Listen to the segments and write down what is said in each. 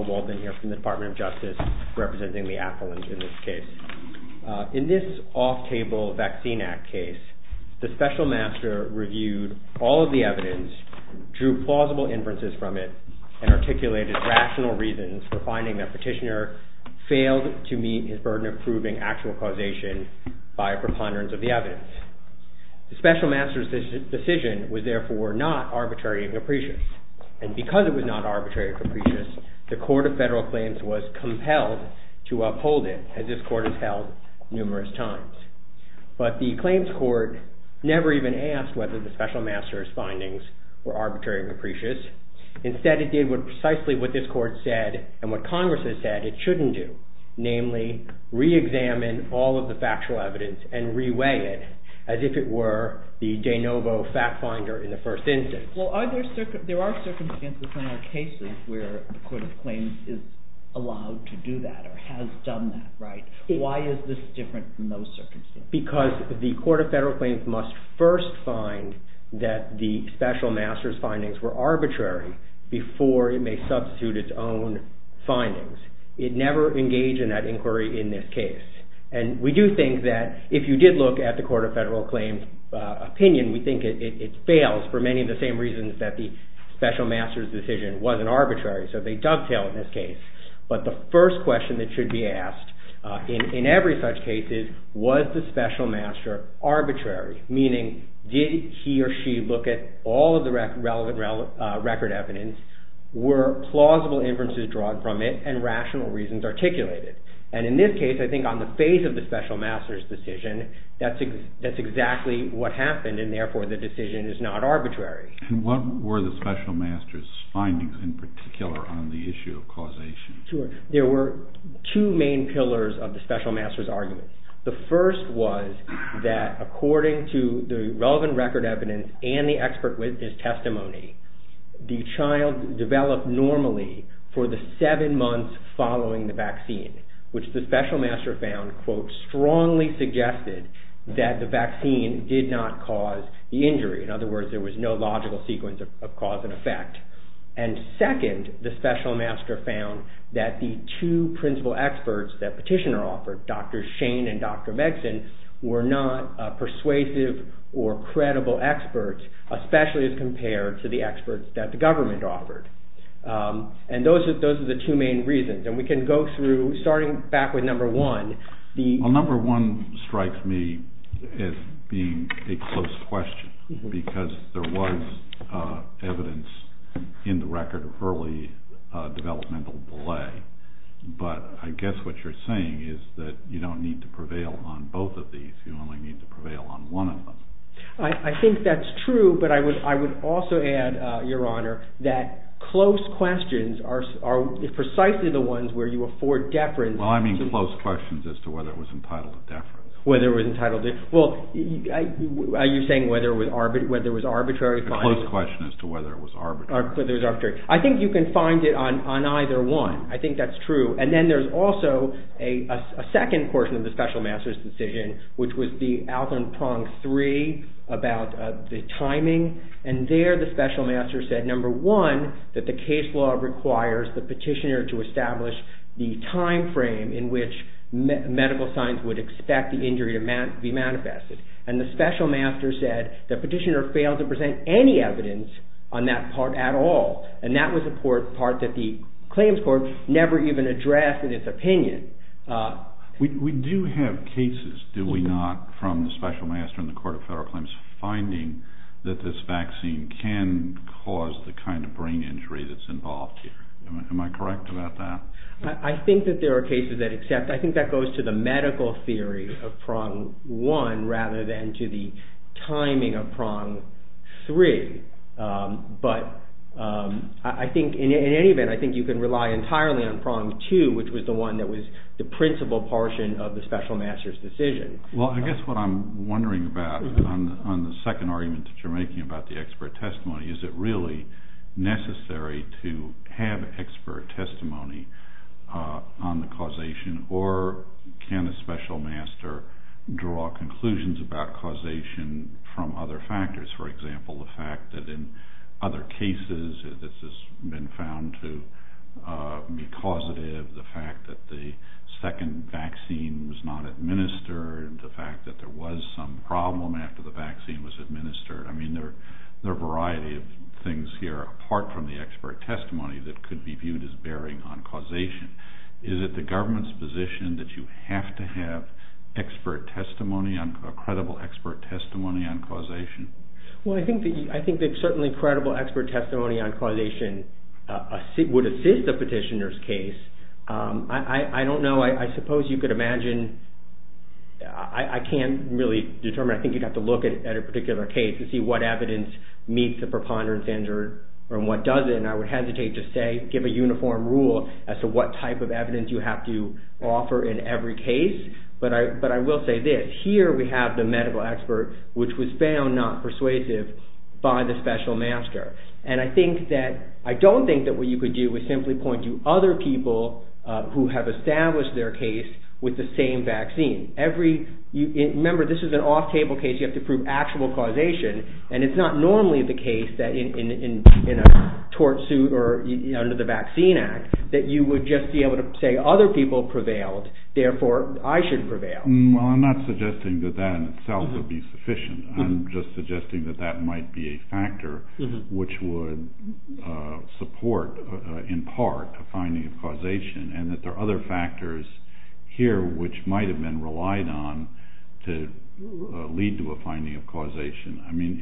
WALDEN In this off-table Vaccine Act case, the Special Master reviewed all of the evidence, drew plausible inferences from it, and articulated rational reasons for finding that Petitioner failed to meet his burden of proving actual causation by a preponderance of the evidence. The Special Master's decision was therefore not arbitrary and capricious. And because it was not arbitrary and capricious, the Court of Federal Claims was compelled to uphold it, as this Court has held numerous times. But the Claims Court never even asked whether the Special Master's findings were arbitrary and capricious. Instead, it did precisely what this Court said and what Congress has said it shouldn't do, namely re-examine all of the factual evidence and re-weigh it as if it were the de novo fact-finder in the first instance. Well, are there circumstances, there are circumstances in our cases where the Court of Claims is allowed to do that or has done that, right? Why is this different from those circumstances? Because the Court of Federal Claims must first find that the Special Master's findings were arbitrary before it may substitute its own findings. It never engaged in that inquiry in this case. And we do think that if you did look at the Court of Federal Claims' opinion, we think it fails for many of the same reasons that the Special Master's decision wasn't arbitrary, so they dovetail in this case. But the first question that should be asked in every such case is, was the Special Master arbitrary? Meaning, did he or she look at all of the relevant record evidence, were plausible inferences drawn from it, and rational reasons articulated? And in this case, I think on the face of the Special Master's decision, that's exactly what happened and therefore the decision is not arbitrary. And what were the Special Master's findings in particular on the issue of causation? There were two main pillars of the Special Master's argument. The first was that according to the relevant record evidence and the expert witness testimony, the child developed normally for the seven months following the vaccine, which the Special Master found, quote, strongly suggested that the vaccine did not cause the injury. In other words, there was no logical sequence of cause and effect. And second, the Special Master found that the two principal experts that Petitioner offered, Dr. Shane and Dr. Megson, were not persuasive or credible experts, especially as compared to the experts that the government offered. And those are the two main reasons, and we can go through, starting back with number one, the... Because there was evidence in the record of early developmental delay, but I guess what you're saying is that you don't need to prevail on both of these. You only need to prevail on one of them. I think that's true, but I would also add, Your Honor, that close questions are precisely the ones where you afford deference. Well, I mean close questions as to whether it was entitled to deference. Whether it was entitled to... Well, are you saying whether it was arbitrary finding... A close question as to whether it was arbitrary. Whether it was arbitrary. I think you can find it on either one. I think that's true. And then there's also a second portion of the Special Master's decision, which was the Alvin Pong three, about the timing, and there the Special Master said, number one, that the case law requires the Petitioner to establish the timeframe in which medical science would expect the injury to be manifested. And the Special Master said the Petitioner failed to present any evidence on that part at all. And that was a part that the claims court never even addressed in its opinion. We do have cases, do we not, from the Special Master and the Court of Federal Claims finding that this vaccine can cause the kind of brain injury that's involved here. Am I correct about that? I think that there are cases that accept. I think that goes to the medical theory of prong one, rather than to the timing of prong three. But I think in any event, I think you can rely entirely on prong two, which was the one that was the principal portion of the Special Master's decision. Well, I guess what I'm wondering about on the second argument that you're making about the expert testimony, is it really necessary to have expert testimony on the causation or can a Special Master draw conclusions about causation from other factors? For example, the fact that in other cases, this has been found to be causative, the fact that the second vaccine was not administered, the fact that there was some problem after the vaccine was administered, I mean, there are a variety of things here apart from the expert testimony that could be viewed as bearing on causation. Is it the government's position that you have to have expert testimony, a credible expert testimony on causation? Well, I think that certainly credible expert testimony on causation would assist a petitioner's case. I don't know. I suppose you could imagine, I can't really determine. I think you'd have to look at a particular case and see what evidence meets the preponderance and what doesn't. I would hesitate to say, give a uniform rule as to what type of evidence you have to offer in every case. But I will say this, here we have the medical expert, which was found not persuasive by the Special Master. I don't think that what you could do is simply point to other people who have established their case with the same vaccine. Remember, this is an off-table case, you have to prove actual causation, and it's not normally the case that in a tort suit or under the Vaccine Act, that you would just be able to say other people prevailed, therefore I should prevail. Well, I'm not suggesting that that in itself would be sufficient. I'm just suggesting that that might be a factor which would support in part a finding of causation and that there are other factors here which might have been relied on to lead to a finding of causation. I mean,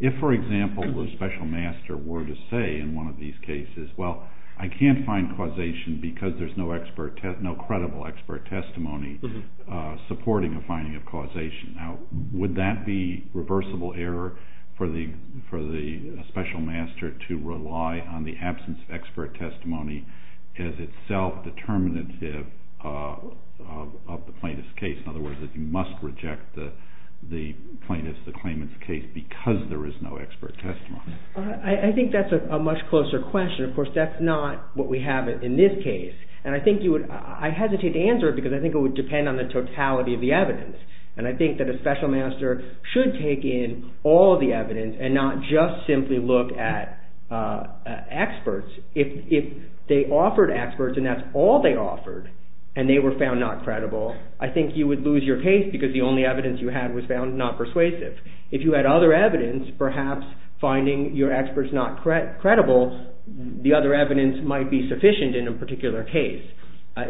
if for example, the Special Master were to say in one of these cases, well, I can't find causation because there's no credible expert testimony supporting a finding of causation. Now, would that be reversible error for the Special Master to rely on the absence of expert testimony as itself determinative of the plaintiff's case? In other words, that you must reject the plaintiff's, the claimant's case because there is no expert testimony. I think that's a much closer question. Of course, that's not what we have in this case. And I think you would, I hesitate to answer it because I think it would depend on the totality of the evidence. And I think that a Special Master should take in all the evidence and not just simply look at experts. If they offered experts and that's all they offered, and they were found not credible, I think you would lose your case because the only evidence you had was found not persuasive. If you had other evidence, perhaps finding your experts not credible, the other evidence might be sufficient in a particular case.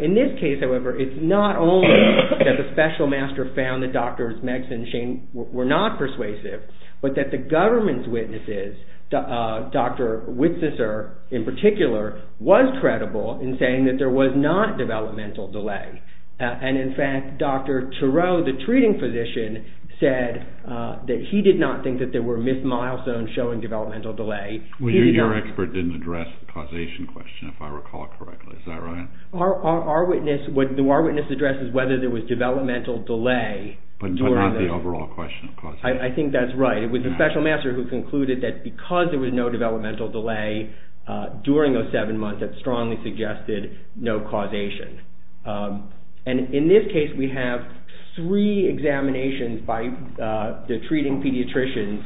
In this case, however, it's not only that the Special Master found that Drs. Megs and Shane were not persuasive, but that the government's witnesses, Dr. Witzeser in particular, was not credible in saying that there was not developmental delay. And in fact, Dr. Turow, the treating physician, said that he did not think that there were missed milestones showing developmental delay. Well, your expert didn't address the causation question, if I recall correctly, is that right? Our witness addresses whether there was developmental delay during the... But not the overall question of causation. I think that's right. It was the Special Master who concluded that because there was no developmental delay during those seven months, that strongly suggested no causation. And in this case, we have three examinations by the treating pediatrician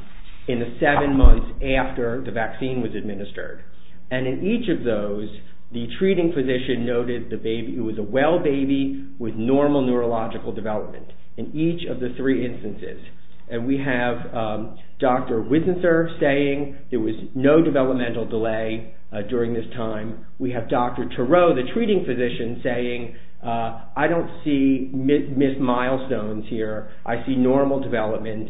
in the seven months after the vaccine was administered. And in each of those, the treating physician noted it was a well baby with normal neurological development in each of the three instances. And we have Dr. Witzeser saying there was no developmental delay during this time. We have Dr. Turow, the treating physician, saying, I don't see missed milestones here. I see normal development.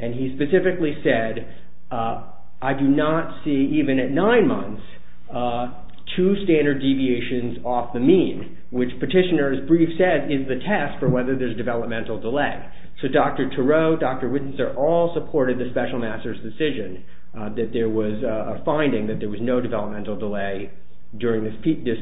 And he specifically said, I do not see, even at nine months, two standard deviations off the mean, which petitioner's brief said is the test for whether there's developmental delay. So Dr. Turow, Dr. Witzeser, all supported the Special Master's decision that there was a finding that there was no developmental delay during this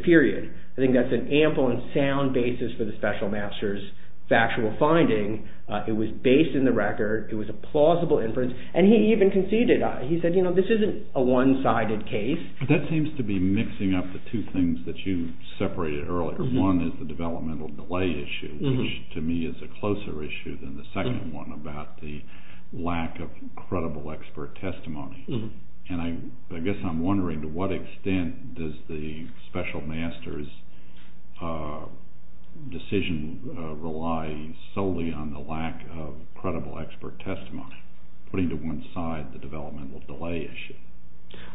period. I think that's an ample and sound basis for the Special Master's factual finding. It was based in the record. It was a plausible inference. And he even conceded. He said, you know, this isn't a one-sided case. That seems to be mixing up the two things that you separated earlier. One is the developmental delay issue, which to me is a closer issue than the second one about the lack of credible expert testimony. And I guess I'm wondering, to what extent does the Special Master's decision rely solely on the lack of credible expert testimony, putting to one side the developmental delay issue?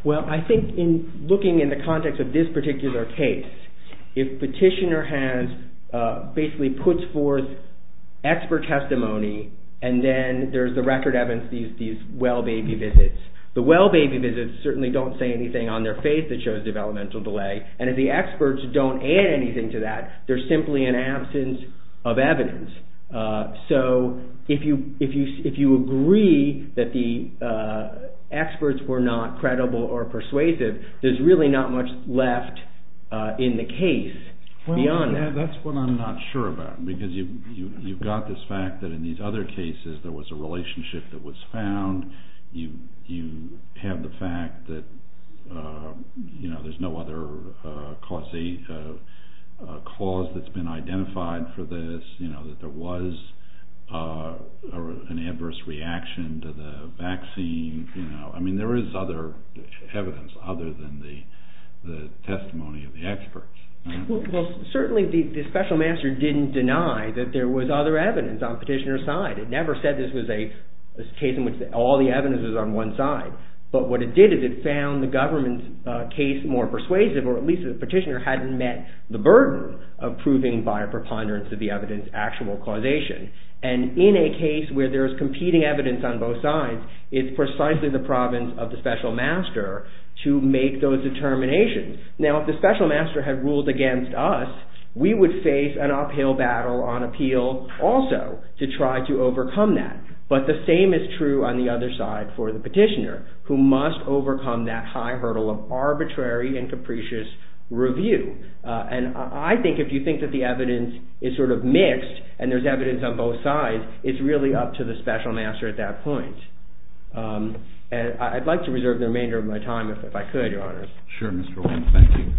Well, I think in looking in the context of this particular case, if petitioner has basically puts forth expert testimony and then there's the record evidence, these well-baby visits, the well-baby visits certainly don't say anything on their face that shows developmental delay. And if the experts don't add anything to that, there's simply an absence of evidence. So if you agree that the experts were not credible or persuasive, there's really not much left in the case beyond that. That's what I'm not sure about, because you've got this fact that in these other cases there was a relationship that was found. You have the fact that, you know, there's no other cause that's been identified for this, you know, that there was an adverse reaction to the vaccine, you know, I mean there is other evidence other than the testimony of the experts. Well, certainly the Special Master didn't deny that there was other evidence on petitioner's side. It never said this was a case in which all the evidence was on one side. But what it did is it found the government's case more persuasive, or at least the petitioner hadn't met the burden of proving by a preponderance of the evidence actual causation. And in a case where there is competing evidence on both sides, it's precisely the province of the Special Master to make those determinations. Now if the Special Master had ruled against us, we would face an uphill battle on appeal also to try to overcome that. But the same is true on the other side for the petitioner, who must overcome that high arbitrary and capricious review. And I think if you think that the evidence is sort of mixed, and there's evidence on both sides, it's really up to the Special Master at that point. And I'd like to reserve the remainder of my time if I could, Your Honors. Sure, Mr. O'Brien. Thank you.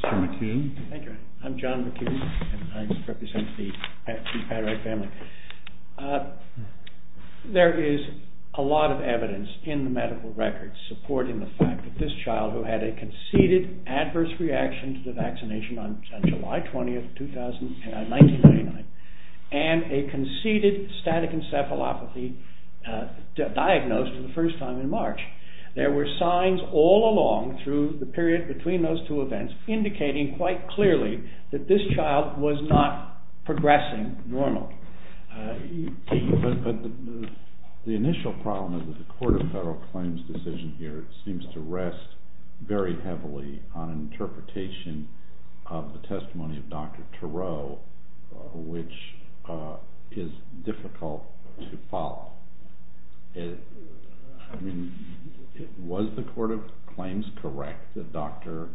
Mr. McKeon. Thank you. I'm John McKeon, and I represent the Paderak family. There is a lot of evidence in the medical records supporting the fact that this child who had a conceded adverse reaction to the vaccination on July 20, 1999, and a conceded static encephalopathy diagnosed for the first time in March. There were signs all along through the period between those two events indicating quite clearly that this child was not progressing normally. The initial problem of the Court of Federal Claims decision here seems to rest very heavily on interpretation of the testimony of Dr. Turow, which is difficult to follow. I mean, was the Court of Claims correct that Dr.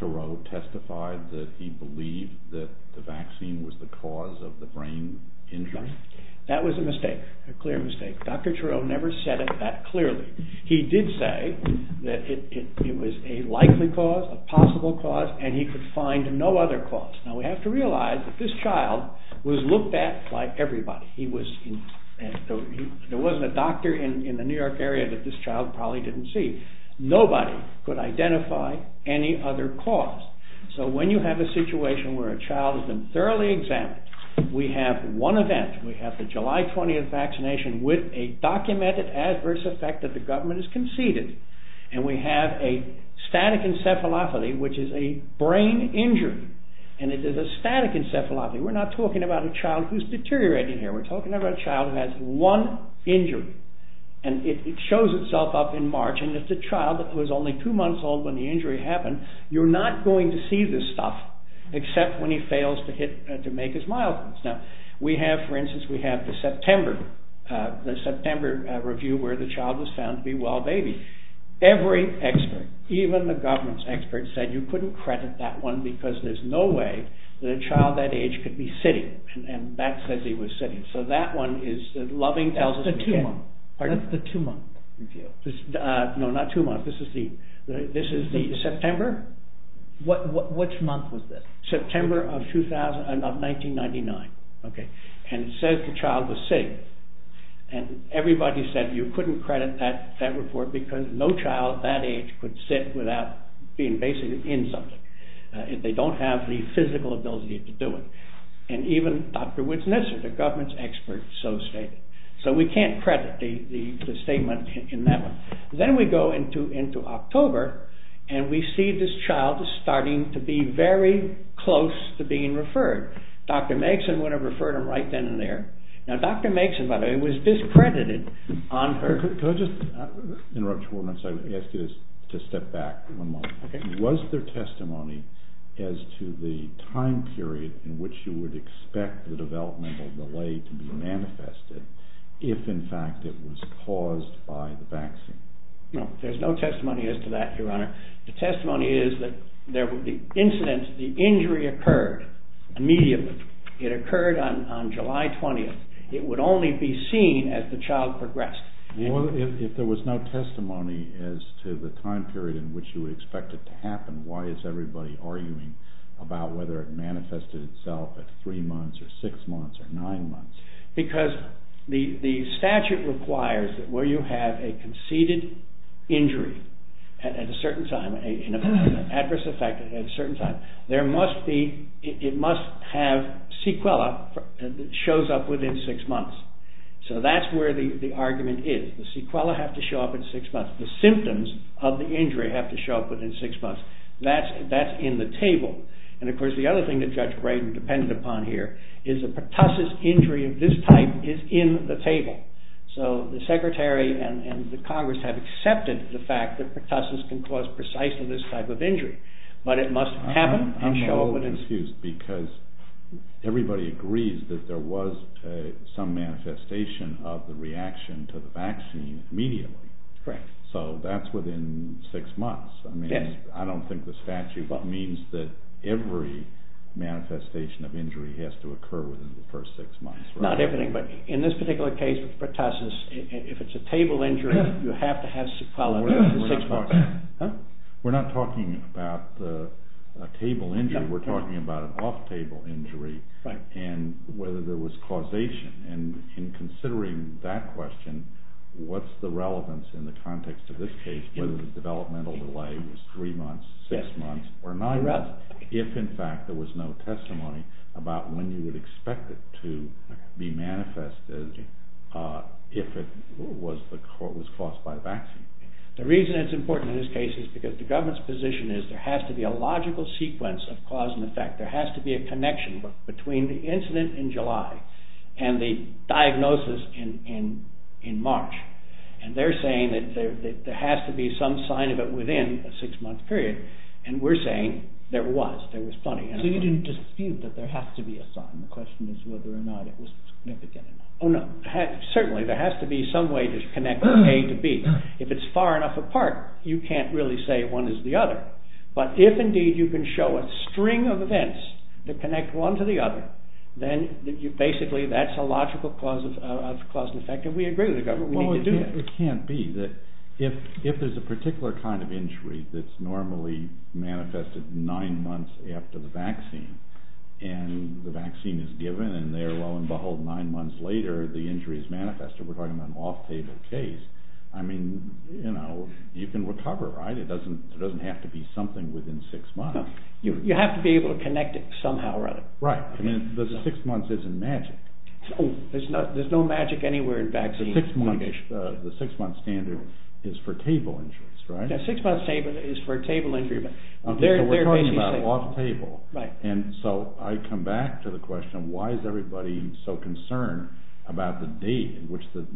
Turow testified that he believed that the vaccine was the cause of the brain injury? That was a mistake. A clear mistake. Dr. Turow never said it that clearly. He did say that it was a likely cause, a possible cause, and he could find no other cause. Now, we have to realize that this child was looked at like everybody. There wasn't a doctor in the New York area that this child probably didn't see. Nobody could identify any other cause. So when you have a situation where a child has been thoroughly examined, we have one event. We have the July 20th vaccination with a documented adverse effect that the government has conceded, and we have a static encephalopathy, which is a brain injury, and it is a static encephalopathy. We're not talking about a child who's deteriorating here. We're talking about a child who has one injury, and it shows itself up in March, and if the child was only two months old when the injury happened, you're not going to see this stuff except when he fails to make his mildness. Now, we have, for instance, we have the September review where the child was found to be well-babied. Every expert, even the government's experts, said you couldn't credit that one because there's no way that a child that age could be sitting, and that says he was sitting. So that one is, Loving tells us we can't. That's the two-month review. That's the two-month review. No, not two months. This is the September? Which month was this? September of 1999, okay, and it says the child was sitting, and everybody said you couldn't credit that report because no child that age could sit without being basically in something. They don't have the physical ability to do it, and even Dr. Witznesser, the government's expert, so stated. So we can't credit the statement in that one. Then we go into October, and we see this child is starting to be very close to being referred. Dr. Megson would have referred him right then and there. Now, Dr. Megson, by the way, was discredited on her... Could I just interrupt you for one second? I'm going to ask you to step back for one moment. Okay. Was there testimony as to the time period in which you would expect the developmental delay to be manifested if, in fact, it was caused by the vaccine? No, there's no testimony as to that, Your Honor. The testimony is that the incident, the injury occurred immediately. It occurred on July 20th. It would only be seen as the child progressed. Well, if there was no testimony as to the time period in which you would expect it to happen, why is everybody arguing about whether it manifested itself at three months or six months or nine months? Because the statute requires that where you have a conceded injury at a certain time, an adverse effect at a certain time, there must be... It must have sequela that shows up within six months. So that's where the argument is. The sequela have to show up in six months. The symptoms of the injury have to show up within six months. That's in the table. And, of course, the other thing that Judge Brayden depended upon here is a pertussis injury of this type is in the table. So the Secretary and the Congress have accepted the fact that pertussis can cause precisely this type of injury, but it must happen and show up within... Everybody agrees that there was some manifestation of the reaction to the vaccine immediately. So that's within six months. I don't think the statute means that every manifestation of injury has to occur within the first six months. Not everything, but in this particular case of pertussis, if it's a table injury, you have to have sequela within six months. We're not talking about a table injury. We're talking about an off-table injury and whether there was causation. And in considering that question, what's the relevance in the context of this case, whether the developmental delay was three months, six months, or nine months, if, in fact, there was no testimony about when you would expect it to be manifested if it was caused by the vaccine? The reason it's important in this case is because the government's position is there has to be a logical sequence of cause and effect. There has to be a connection between the incident in July and the diagnosis in March. And they're saying that there has to be some sign of it within a six-month period, and we're saying there was. So you didn't dispute that there has to be a sign. The question is whether or not it was significant enough. Certainly, there has to be some way to connect A to B. If it's far enough apart, you can't really say one is the other. But if, indeed, you can show a string of events that connect one to the other, then basically that's a logical cause and effect, and we agree with the government. It can't be. If there's a particular kind of injury that's normally manifested nine months after the injury is manifested, we're talking about an off-table case, I mean, you know, you can recover, right? It doesn't have to be something within six months. You have to be able to connect it somehow or other. Right. I mean, the six months isn't magic. There's no magic anywhere in vaccines. The six-month standard is for table injuries, right? The six-month standard is for table injuries. We're talking about off-table. Right. And so I come back to the question, why is everybody so concerned about the date in which the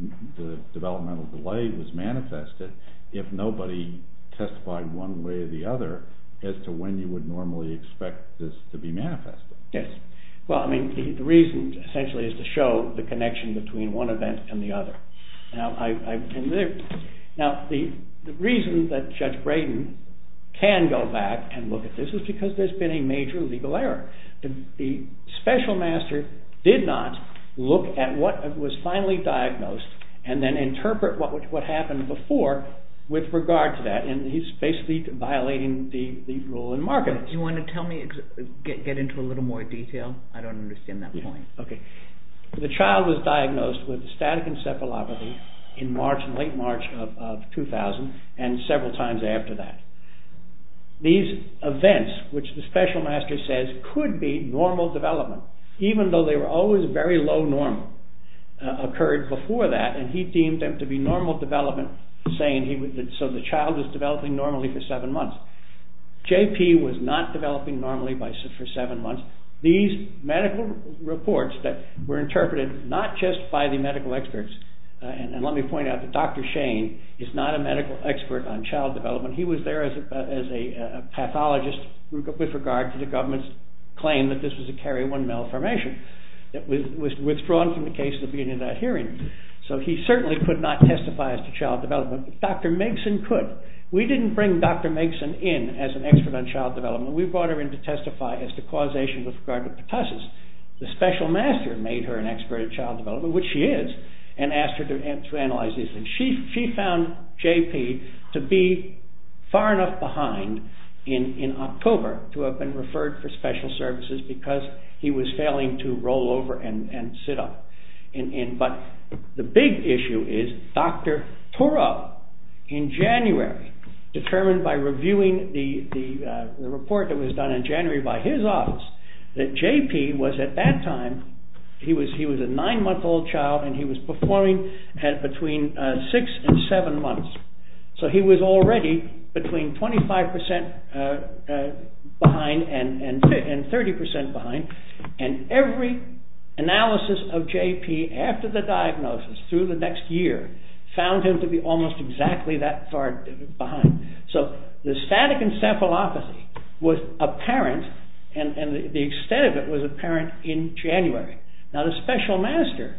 developmental delay was manifested if nobody testified one way or the other as to when you would normally expect this to be manifested? Yes. Well, I mean, the reason, essentially, is to show the connection between one event and the other. Now, the reason that Judge Brayden can go back and look at this is because there's been a major legal error. The special master did not look at what was finally diagnosed and then interpret what happened before with regard to that. And he's basically violating the rule in Markham. Do you want to tell me, get into a little more detail? I don't understand that point. Okay. The child was diagnosed with static encephalopathy in March, in late March of 2000 and several times after that. These events, which the special master says could be normal development, even though they were always very low normal, occurred before that and he deemed them to be normal development saying so the child is developing normally for seven months. J.P. was not developing normally for seven months. These medical reports that were interpreted not just by the medical experts, and let me as a pathologist with regard to the government's claim that this was a carrier 1 malformation that was withdrawn from the case at the beginning of that hearing. So he certainly could not testify as to child development. Dr. Megson could. We didn't bring Dr. Megson in as an expert on child development. We brought her in to testify as to causation with regard to pertussis. The special master made her an expert in child development, which she is, and asked her to analyze these things. She found J.P. to be far enough behind in October to have been referred for special services because he was failing to roll over and sit up. But the big issue is Dr. Toro, in January, determined by reviewing the report that was done in January by his office, that J.P. was at that time, he was a nine-month-old child and he was performing at between six and seven months. So he was already between 25% behind and 30% behind, and every analysis of J.P. after the diagnosis through the next year found him to be almost exactly that far behind. So the static encephalopathy was apparent, and the extent of it was apparent in January. Now the special master,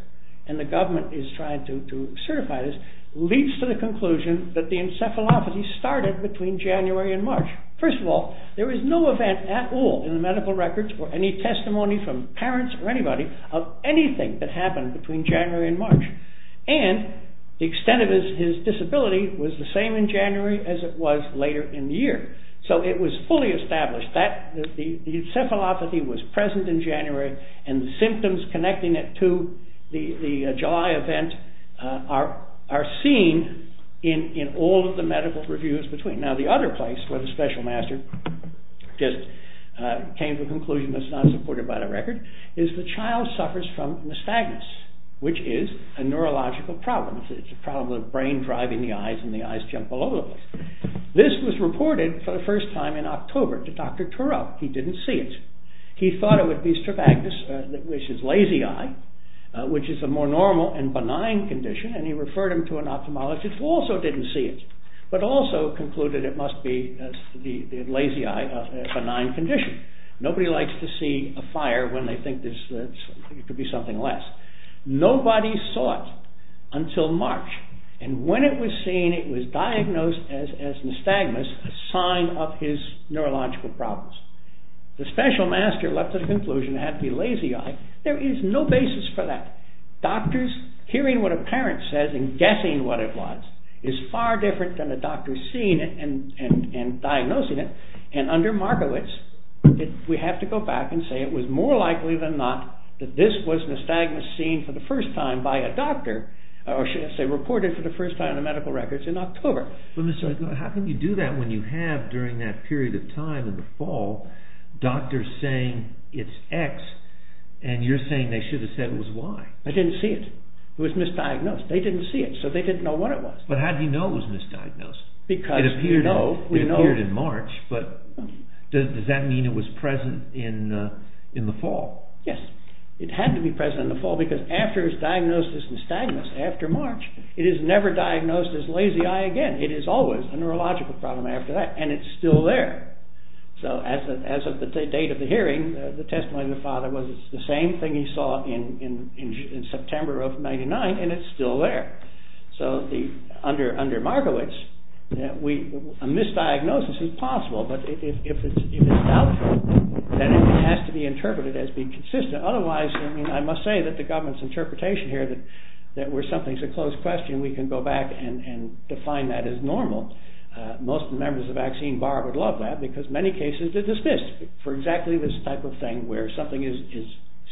and the government is trying to certify this, leads to the conclusion that the encephalopathy started between January and March. First of all, there was no event at all in the medical records or any testimony from parents or anybody of anything that happened between January and March. And the extent of his disability was the same in January as it was later in the year. So it was fully established that the encephalopathy was present in January, and the symptoms connecting it to the July event are seen in all of the medical reviews between. Now the other place where the special master just came to a conclusion that's not supported by the record is the child suffers from nystagmus, which is a neurological problem. It's a problem of the brain driving the eyes and the eyes jump all over the place. This was reported for the first time in October to Dr. Turow. He didn't see it. He thought it would be strabismus, which is lazy eye, which is a more normal and benign condition, and he referred him to an ophthalmologist who also didn't see it, but also concluded it must be the lazy eye, a benign condition. Nobody likes to see a fire when they think it could be something less. Nobody saw it until March, and when it was seen, it was diagnosed as nystagmus, a sign of his neurological problems. The special master left the conclusion it had to be lazy eye. There is no basis for that. Doctors hearing what a parent says and guessing what it was is far different than a doctor seeing it and diagnosing it, and under Markowitz, we have to go back and say it was more likely than not that this was nystagmus seen for the first time by a doctor, or should I say reported for the first time in the medical records in October. How can you do that when you have, during that period of time in the fall, doctors saying it's X, and you're saying they should have said it was Y? They didn't see it. It was misdiagnosed. They didn't see it, so they didn't know what it was. But how do you know it was misdiagnosed? It appeared in March, but does that mean it was present in the fall? Yes. It had to be present in the fall, because after it's diagnosed as nystagmus, after March, it is never diagnosed as lazy eye again. It is always a neurological problem after that, and it's still there. So as of the date of the hearing, the testimony of the father was it's the same thing he saw in September of 1999, and it's still there. So under Markowitz, a misdiagnosis is possible, but if it's doubtful, then it has to be interpreted as being consistent. Otherwise, I must say that the government's interpretation here that where something's a closed question, we can go back and define that as normal. Most members of the vaccine bar would love that, because many cases are dismissed for exactly this type of thing, where something is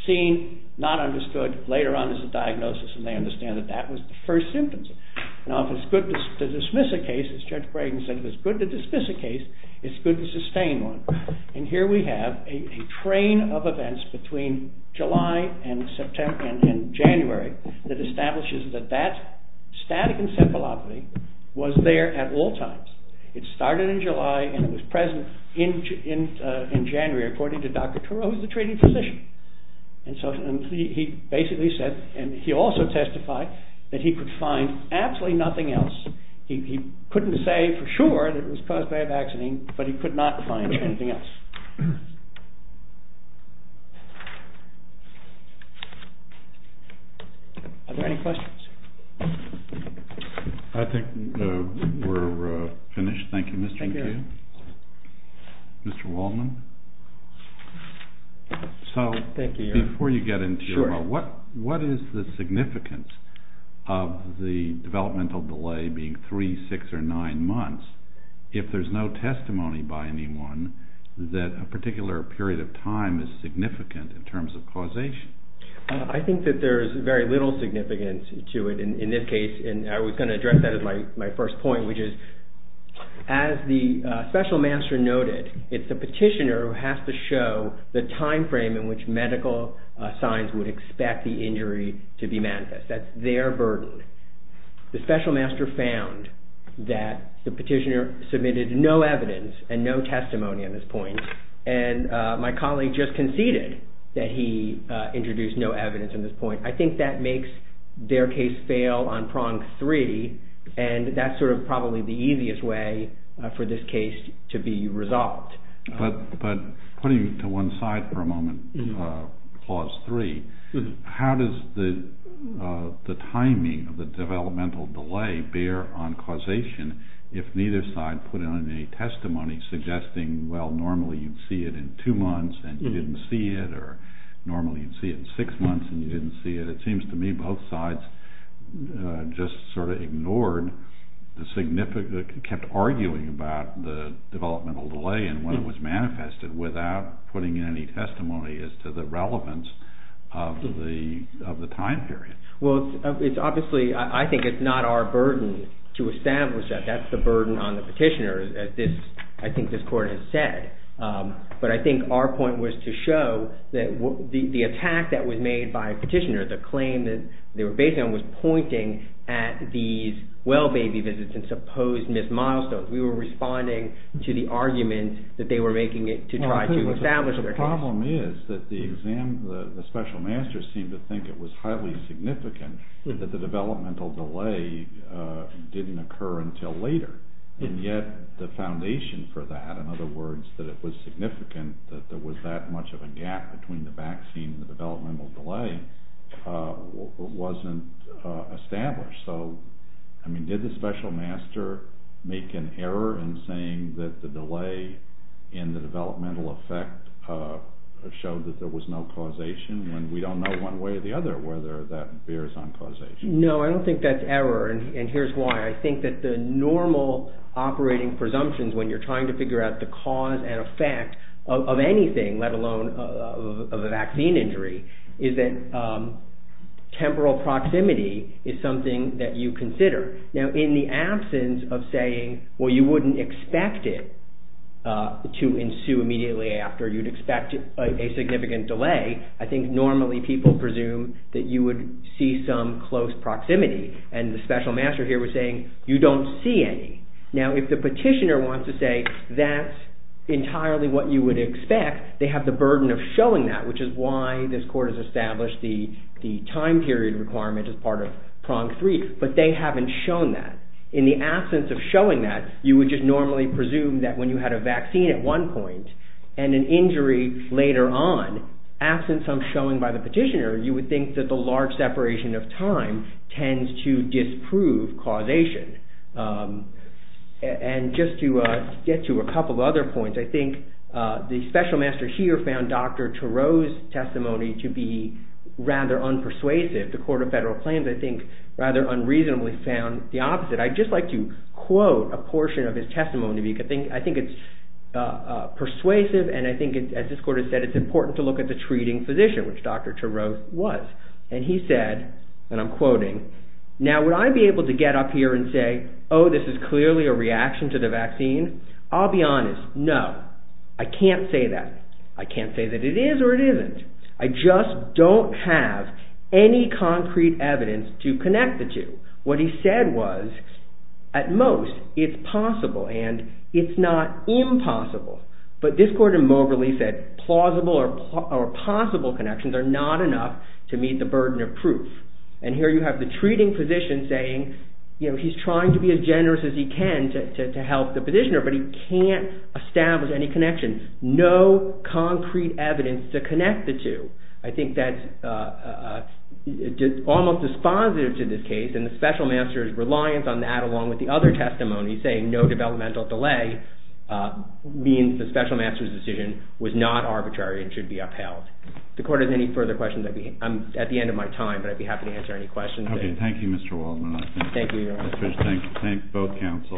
seen, not understood, later on as a diagnosis, and they understand that that was the first symptoms. Now, if it's good to dismiss a case, as Judge Brayden said, if it's good to dismiss a case, it's good to sustain one. And here we have a train of events between July and January that establishes that that static encephalopathy was there at all times. It started in July, and it was present in January, according to Dr. Turow, who's the treating physician. And so he basically said, and he also testified, that he could find absolutely nothing else. He couldn't say for sure that it was caused by a vaccine, but he could not find anything else. Are there any questions? I think we're finished. Thank you, Mr. McKeon. Thank you. Mr. Wallman. So, before you get into it, what is the significance of the developmental delay being three, six, or nine months, if there's no testimony by anyone that a particular period of time is significant in terms of causation? I think that there's very little significance to it in this case, and I was going to address that as my first point, which is, as the special master noted, it's the petitioner who has to show the time frame in which medical signs would expect the injury to be manifest. That's their burden. The special master found that the petitioner submitted no evidence and no testimony on this point, and my colleague just conceded that he introduced no evidence on this point. I think that makes their case fail on prong three, and that's sort of probably the easiest way for this case to be resolved. But putting it to one side for a moment, clause three, how does the timing of the developmental delay bear on causation if neither side put in any testimony suggesting, well, normally you'd see it in two months and you didn't see it, or normally you'd see it in six months and you didn't see it? It seems to me both sides just sort of ignored the significance, kept arguing about the developmental delay and when it was manifested without putting any testimony as to the relevance of the time period. Well, it's obviously, I think it's not our burden to establish that. That's the burden on the petitioner, as I think this Court has said. But I think our point was to show that the attack that was made by a petitioner, the claim that they were based on, was pointing at these well-baby visits and supposed missed milestones. We were responding to the argument that they were making it to try to establish their case. The problem is that the special master seemed to think it was highly significant that the developmental delay didn't occur until later, and yet the foundation for that, in other words, that it was significant that there was that much of a gap between the vaccine and the developmental delay, wasn't established. So, I mean, did the special master make an error in saying that the delay in the developmental effect showed that there was no causation when we don't know one way or the other whether that bears on causation? No, I don't think that's error, and here's why. I think that the normal operating presumptions when you're trying to figure out the cause and effect of anything, let alone of a vaccine injury, is that temporal proximity is something that you consider. Now, in the absence of saying, well, you wouldn't expect it to ensue immediately after, you'd expect a significant delay, I think normally people presume that you would see some close proximity, and the special master here was saying, you don't see any. Now, if the petitioner wants to say that's entirely what you would expect, they have the burden of showing that, which is why this court has established the time period requirement as part of prong three, but they haven't shown that. In the absence of showing that, you would just normally presume that when you had a vaccine at one point and an injury later on, absence of showing by the petitioner, you would think that the large separation of time tends to disprove causation. And just to get to a couple of other points, I think the special master here found Dr. Turow's testimony to be rather unpersuasive. The court of federal claims, I think, rather unreasonably found the opposite. I'd just like to quote a portion of his testimony. I think it's persuasive, and I think, as this court has said, it's important to look at the treating physician, which Dr. Turow was. And he said, and I'm quoting, Now, would I be able to get up here and say, oh, this is clearly a reaction to the vaccine? I'll be honest, no. I can't say that. I can't say that it is or it isn't. I just don't have any concrete evidence to connect the two. What he said was, at most, it's possible, and it's not impossible. But this court immorally said plausible or possible connections are not enough to meet the burden of proof. And here you have the treating physician saying, he's trying to be as generous as he can to help the physician, but he can't establish any connection. No concrete evidence to connect the two. I think that's almost dispositive to this case, and the special master's reliance on that, along with the other testimony saying no developmental delay, means the special master's decision was not arbitrary and should be upheld. If the court has any further questions, I'm at the end of my time, but I'd be happy to answer any questions. Thank you, Mr. Waldman. Thank you, Your Honor. Thank both counsel.